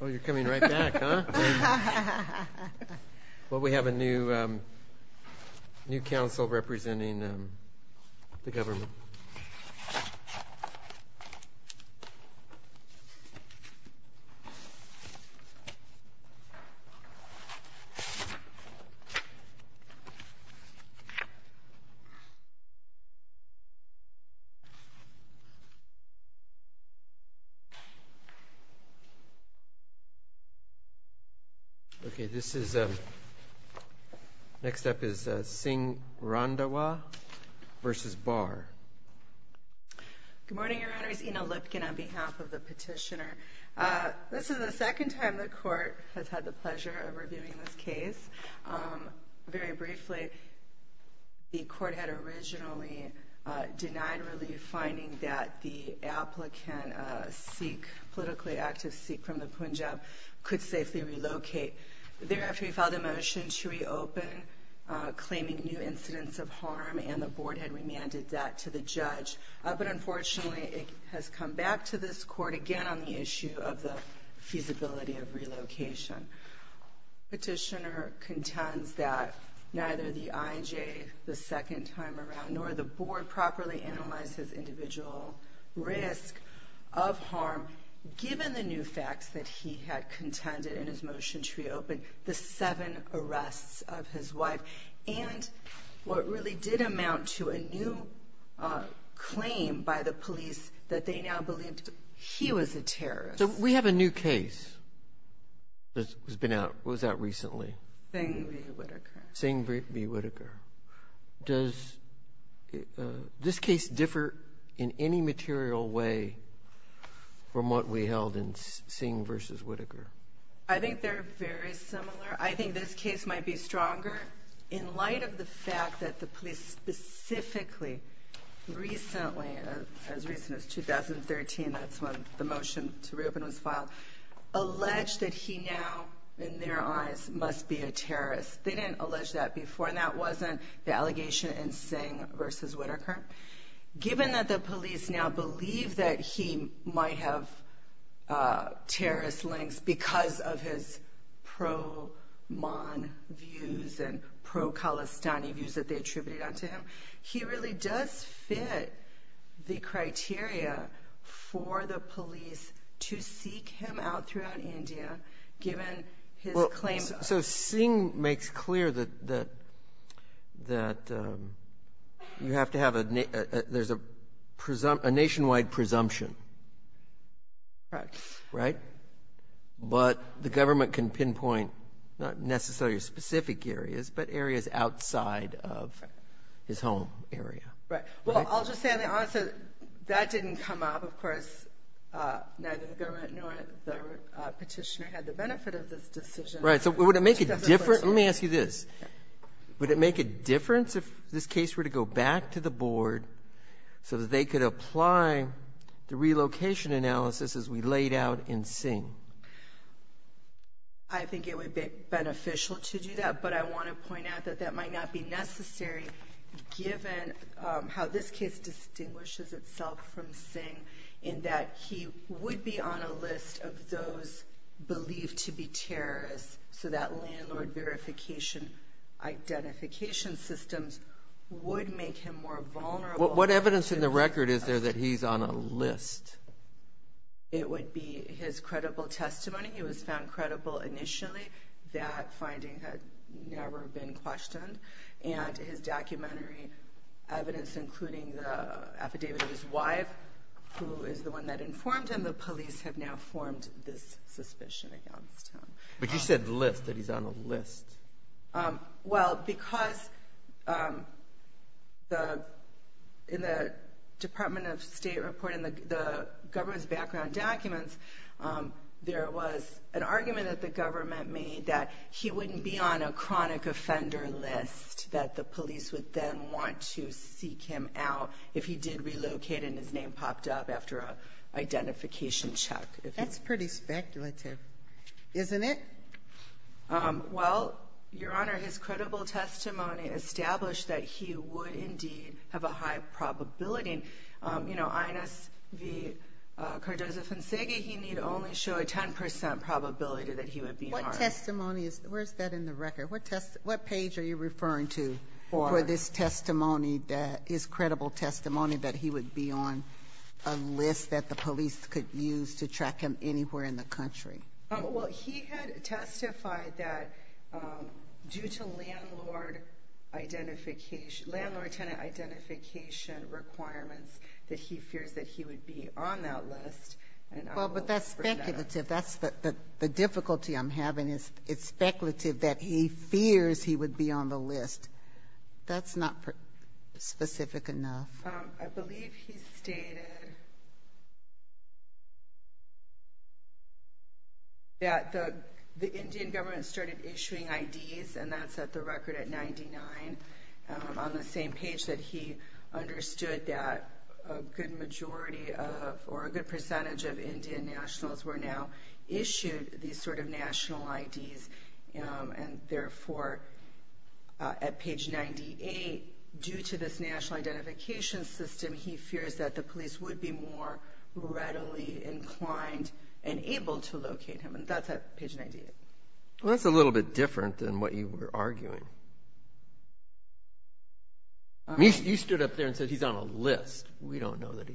Oh, you're coming right back, huh? Well, we have a new council representing the government. Okay, this is, next up is Singh Randhawa versus Barr. Good morning, Your Honor. It's Ina Lipkin on behalf of the petitioner. This is the second time the court has had the pleasure of reviewing this case. Very briefly, the court had originally denied relief, finding that the applicant Sikh, politically active Sikh from the Punjab, could safely relocate. Thereafter, we filed a motion to reopen, claiming new incidents of harm, and the board had remanded that to the judge. But unfortunately, it has come back to this court again on the issue of the feasibility of relocation. The petitioner contends that neither the IJ the second time around nor the board properly analyzed his individual risk of harm, given the new facts that he had contended in his motion to reopen, the seven arrests of his wife, and what really did amount to a new claim by the police that they now believed he was a terrorist. So we have a new case that has been out. What was that recently? Singh v. Whitaker. Singh v. Whitaker. Does this case differ in any material way from what we held in Singh versus Whitaker? I think they're very similar. I think this case might be stronger in light of the fact that the police specifically recently, as recent as 2013, that's when the motion to reopen was filed, alleged that he now, in their eyes, must be a terrorist. They didn't allege that before, and that wasn't the allegation in Singh versus Whitaker. Given that the police now believe that he might have terrorist links because of his pro-Man views and pro-Kalistani views that they attributed onto him, he really does fit the criteria for the police to seek him out throughout India, given his claim. So Singh makes clear that you have to have a nationwide presumption. Right. Right? But the government can pinpoint not necessarily specific areas, but areas outside of his home area. Right. Well, I'll just say, honestly, that didn't come up. Of course, neither the government nor the Petitioner had the benefit of this decision. Right. So would it make a difference? Let me ask you this. Would it make a difference if this case were to go back to the Board so that they could apply the relocation analysis as we laid out in Singh? I think it would be beneficial to do that, but I want to point out that that might not be necessary, given how this case distinguishes itself from Singh in that he would be on a list of those believed to be terrorists, so that landlord verification identification systems would make him more vulnerable. What evidence in the record is there that he's on a list? It would be his credible testimony. He was found credible initially. That finding had never been questioned. And his documentary evidence, including the affidavit of his wife, who is the one that informed him, the police have now formed this suspicion against him. But you said list, that he's on a list. Well, because in the Department of State report in the government's background documents, there was an argument that the government made that he wouldn't be on a chronic offender list, that the police would then want to seek him out if he did relocate and his name popped up after an identification check. That's pretty speculative, isn't it? Well, Your Honor, his credible testimony established that he would indeed have a high probability. You know, INSV Cardozo-Fonseca, he need only show a 10% probability that he would be on a list. What testimony is, where is that in the record? What page are you referring to for this testimony that is credible testimony that he would be on a list that the police could use to track him anywhere in the country? Well, he had testified that due to landlord identification, landlord-tenant identification requirements, that he fears that he would be on that list. Well, but that's speculative. That's the difficulty I'm having is it's speculative that he fears he would be on the list. That's not specific enough. I believe he stated that the Indian government started issuing IDs, and that's at the record at 99 on the same page that he understood that a good majority of or a good percentage of Indian nationals were now issued these sort of national IDs. And therefore, at page 98, due to this national identification system, he fears that the police would be more readily inclined and able to locate him. And that's at page 98. Well, that's a little bit different than what you were arguing. You stood up there and said he's on a list. You don't know that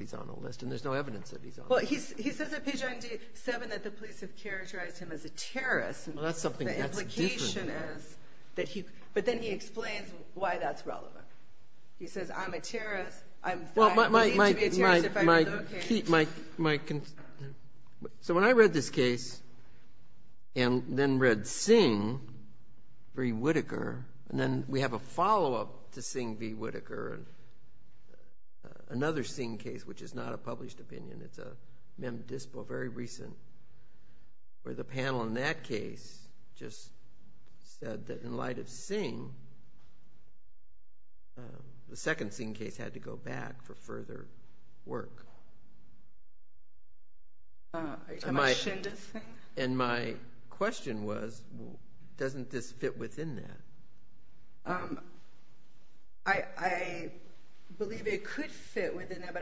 he's on a list, and there's no evidence that he's on a list. Well, he says at page 97 that the police have characterized him as a terrorist. Well, that's something that's different. But then he explains why that's relevant. He says, I'm a terrorist. I'm threatened to be a terrorist if I'm located. So when I read this case and then read Singh v. Whittaker, and then we have a follow-up to Singh v. Whittaker, another Singh case, which is not a published opinion, it's a mem dispo, very recent, where the panel in that case just said that in light of Singh, the second Singh case had to go back for further work. And my question was, doesn't this fit within that? I believe it could fit within that,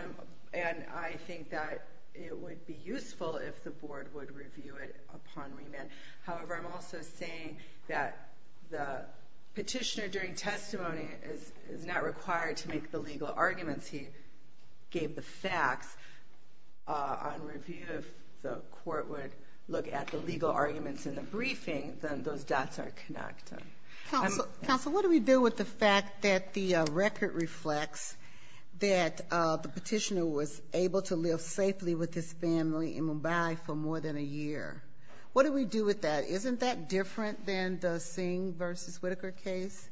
and I think that it would be useful if the board would review it upon remand. However, I'm also saying that the petitioner during testimony is not required to make the legal arguments. He gave the facts on review. If the court would look at the legal arguments in the briefing, then those dots are connected. Counsel, what do we do with the fact that the record reflects that the petitioner was able to live safely with his family in Mumbai for more than a year? What do we do with that? Isn't that different than the Singh v. Whittaker case,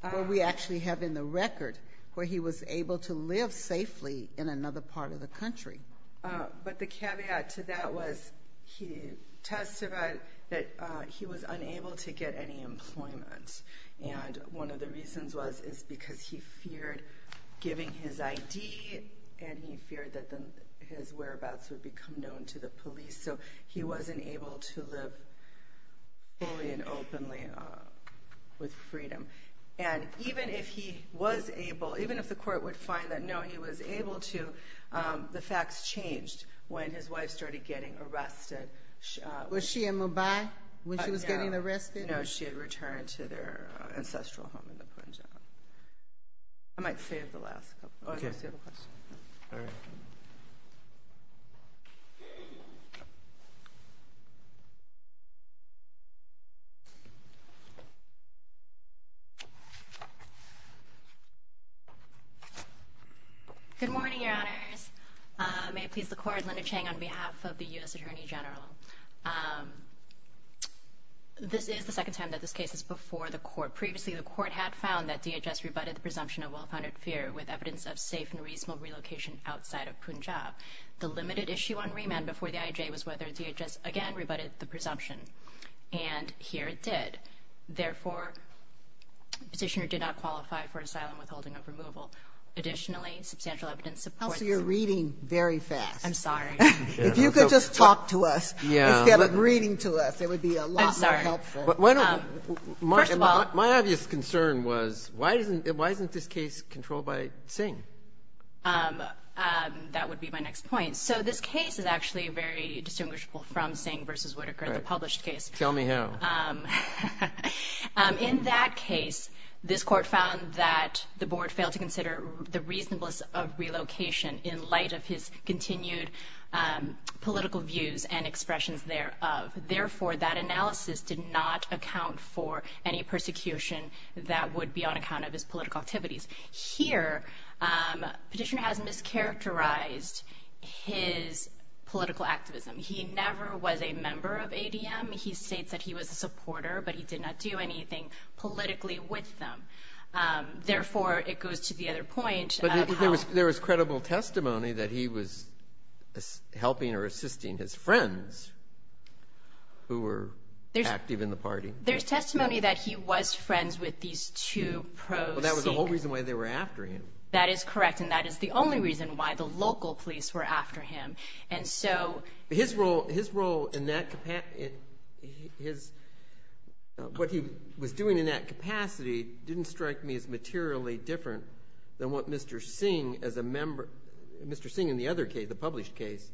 where we actually have in the record where he was able to live safely in another part of the country? But the caveat to that was he testified that he was unable to get any employment, and one of the reasons was because he feared giving his ID, and he feared that his whereabouts would become known to the police, so he wasn't able to live fully and openly with freedom. And even if he was able, even if the court would find that, no, he was able to, the facts changed when his wife started getting arrested. Was she in Mumbai when she was getting arrested? No, she had returned to their ancestral home in Punjab. I might save the last couple of questions. All right. Good morning, Your Honors. May it please the Court, Linda Chang on behalf of the U.S. Attorney General. This is the second time that this case is before the Court. Previously, the Court had found that DHS rebutted the presumption of well-founded fear with evidence of safe and reasonable relocation outside of Punjab. The limited issue on remand before the IJ was whether DHS again rebutted the presumption, and here it did. Therefore, the petitioner did not qualify for asylum withholding of removal. Additionally, substantial evidence supports it. Also, you're reading very fast. I'm sorry. If you could just talk to us instead of reading to us, it would be a lot more helpful. I'm sorry. Well, my obvious concern was why isn't this case controlled by Singh? That would be my next point. So this case is actually very distinguishable from Singh v. Whitaker, the published case. Tell me how. In that case, this Court found that the Board failed to consider the reasonableness of relocation in light of his continued political views and expressions thereof. Therefore, that analysis did not account for any persecution that would be on account of his political activities. Here, petitioner has mischaracterized his political activism. He never was a member of ADM. He states that he was a supporter, but he did not do anything politically with them. Therefore, it goes to the other point of how. There is credible testimony that he was helping or assisting his friends who were active in the party. There's testimony that he was friends with these two pro-Singh. Well, that was the whole reason why they were after him. That is correct, and that is the only reason why the local police were after him. And so. His role in that, what he was doing in that capacity didn't strike me as materially different than what Mr. Singh as a member, Mr. Singh in the other case, the published case,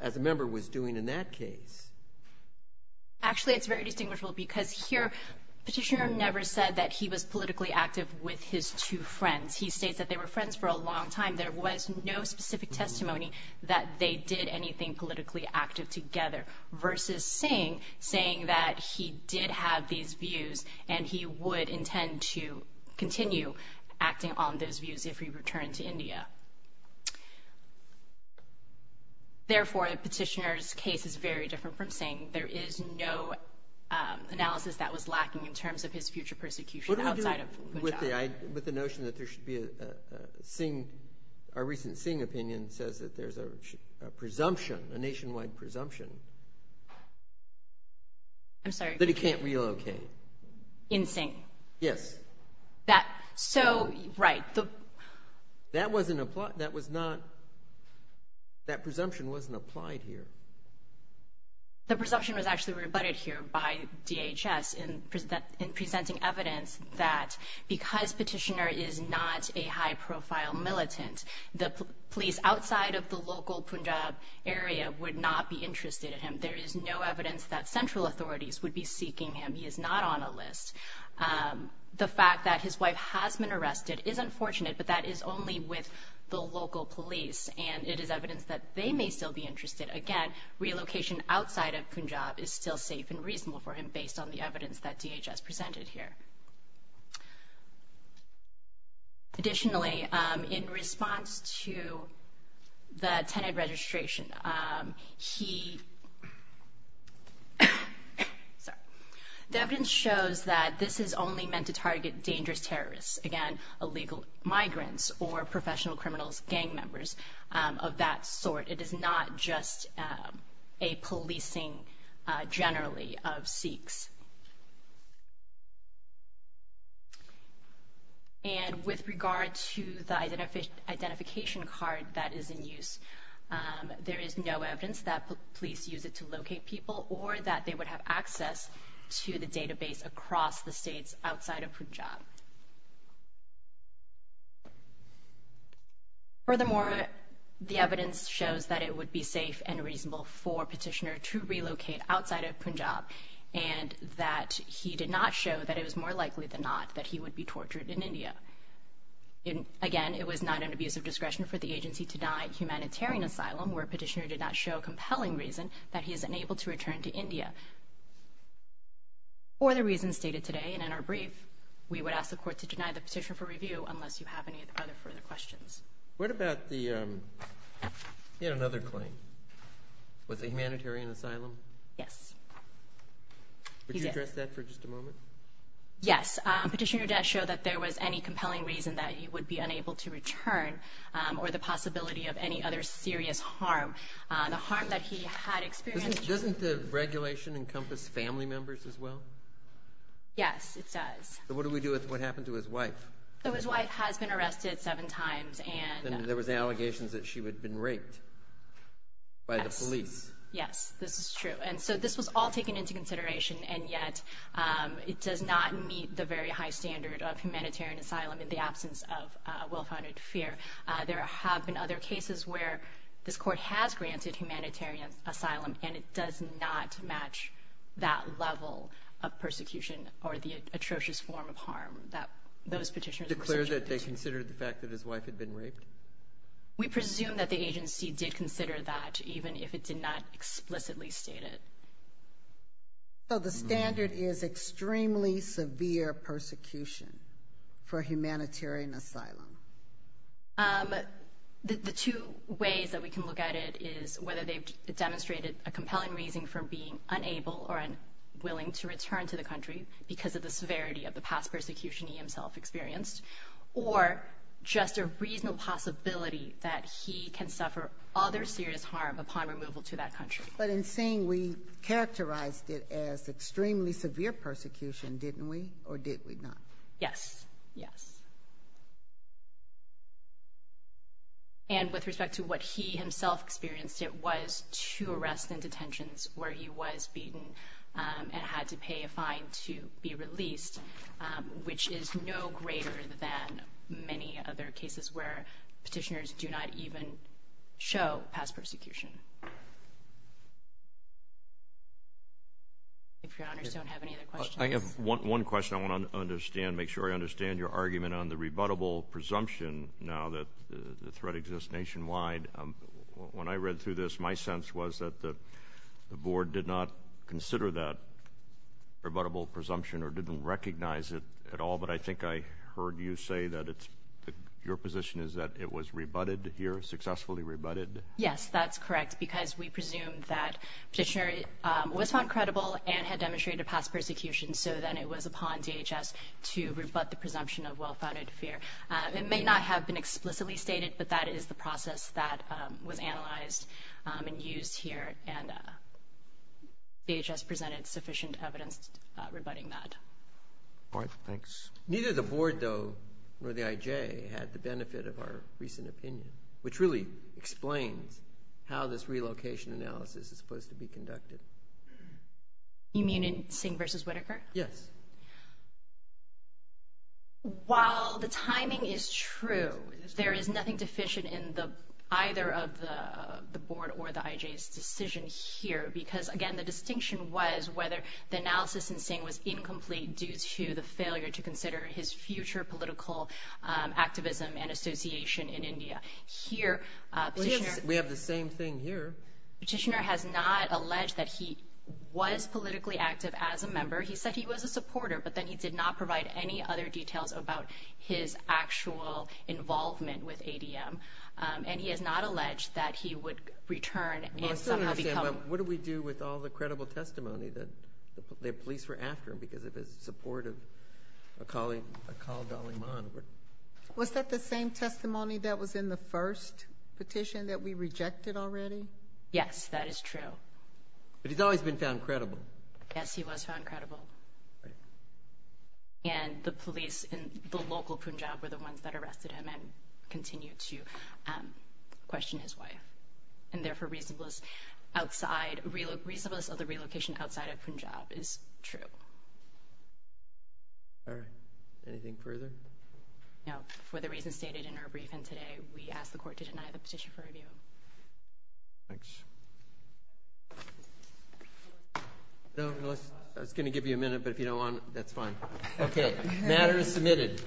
as a member was doing in that case. Actually, it's very distinguishable because here, petitioner never said that he was politically active with his two friends. He states that they were friends for a long time. There was no specific testimony that they did anything politically active together versus Singh, saying that he did have these views and he would intend to continue acting on those views if he returned to India. Therefore, the petitioner's case is very different from Singh. There is no analysis that was lacking in terms of his future persecution outside of Punjab. What do we do with the notion that there should be a Singh, a recent Singh opinion says that there's a presumption, a nationwide presumption. I'm sorry. That he can't relocate. In Singh. Yes. That, so, right. That wasn't applied, that was not, that presumption wasn't applied here. The presumption was actually rebutted here by DHS in presenting evidence that because petitioner is not a high profile militant, the police outside of the local Punjab area would not be interested in him. There is no evidence that central authorities would be seeking him. He is not on a list. The fact that his wife has been arrested is unfortunate, but that is only with the local police and it is evidence that they may still be interested. Again, relocation outside of Punjab is still safe and reasonable for him based on the evidence that DHS presented here. Additionally, in response to the tenant registration, he, sorry, the evidence shows that this is only meant to target dangerous terrorists. Again, illegal migrants or professional criminals, gang members of that sort. It is not just a policing generally of Sikhs. And with regard to the identification card that is in use, there is no evidence that police use it to locate people or that they would have access to the database across the states outside of Punjab. Furthermore, the evidence shows that it would be safe and reasonable for petitioner to relocate outside of Punjab and that he did not show that it was more likely than not that he would be tortured in India. Again, it was not an abuse of discretion for the agency to deny humanitarian asylum where petitioner did not show compelling reason that he is unable to return to India. For the reasons stated today and in our brief, we would ask the court to deny the petition for review unless you have any other further questions. What about the, you had another claim. Was it humanitarian asylum? Yes. Would you address that for just a moment? Yes. Petitioner did not show that there was any compelling reason that he would be unable to return or the possibility of any other serious harm. The harm that he had experienced. Doesn't the regulation encompass family members as well? Yes, it does. So what do we do with what happened to his wife? So his wife has been arrested seven times and There was allegations that she would have been raped by the police. Yes, this is true. And so this was all taken into consideration and yet it does not meet the very high standard of humanitarian asylum in the absence of well-founded fear. There have been other cases where this court has granted humanitarian asylum and it does not match that level of persecution or the atrocious form of harm that those petitioners were subjected to. Declare that they considered the fact that his wife had been raped? We presume that the agency did consider that even if it did not explicitly state it. So the standard is extremely severe persecution for humanitarian asylum. The two ways that we can look at it is whether they've demonstrated a compelling reason for being unable or unwilling to return to the country because of the severity of the past persecution he himself experienced or just a reasonable possibility that he can suffer other serious harm upon removal to that country. But in saying we characterized it as extremely severe persecution, didn't we? Or did we not? Yes, yes. And with respect to what he himself experienced, it was two arrests and detentions where he was beaten and had to pay a fine to be released, which is no greater than many other cases where petitioners do not even show past persecution. If Your Honors don't have any other questions. I have one question I want to understand. Make sure I understand your argument on the rebuttable presumption now that the threat exists nationwide. When I read through this, my sense was that the board did not consider that rebuttable presumption or didn't recognize it at all, but I think I heard you say that your position is that it was rebutted here, successfully rebutted. Yes, that's correct, because we presume that petitioner was found credible and had demonstrated past persecution, so then it was upon DHS to rebut the presumption of well-founded fear. It may not have been explicitly stated, but that is the process that was analyzed and used here, and DHS presented sufficient evidence rebutting that. All right, thanks. Neither the board, though, nor the IJ had the benefit of our recent opinion, which really explains how this relocation analysis is supposed to be conducted. You mean in Singh v. Whitaker? Yes. While the timing is true, there is nothing deficient in either of the board or the IJ's decision here, because, again, the distinction was whether the analysis in Singh was incomplete due to the failure to consider his future political activism and association in India. We have the same thing here. Petitioner has not alleged that he was politically active as a member. He said he was a supporter, but then he did not provide any other details about his actual involvement with ADM, and he has not alleged that he would return and somehow become one. Well, what do we do with all the credible testimony that the police were after him because of his support of a colleague, Akal Dalai Lama? Was that the same testimony that was in the first petition that we rejected already? Yes, that is true. But he's always been found credible. Yes, he was found credible. And the police in the local Punjab were the ones that arrested him and continue to question his wife and, therefore, reasonableness of the relocation outside of Punjab is true. All right. Anything further? No. For the reasons stated in our briefing today, we ask the court to deny the petition for review. Thanks. I was going to give you a minute, but if you don't want to, that's fine. Okay. Matter is submitted.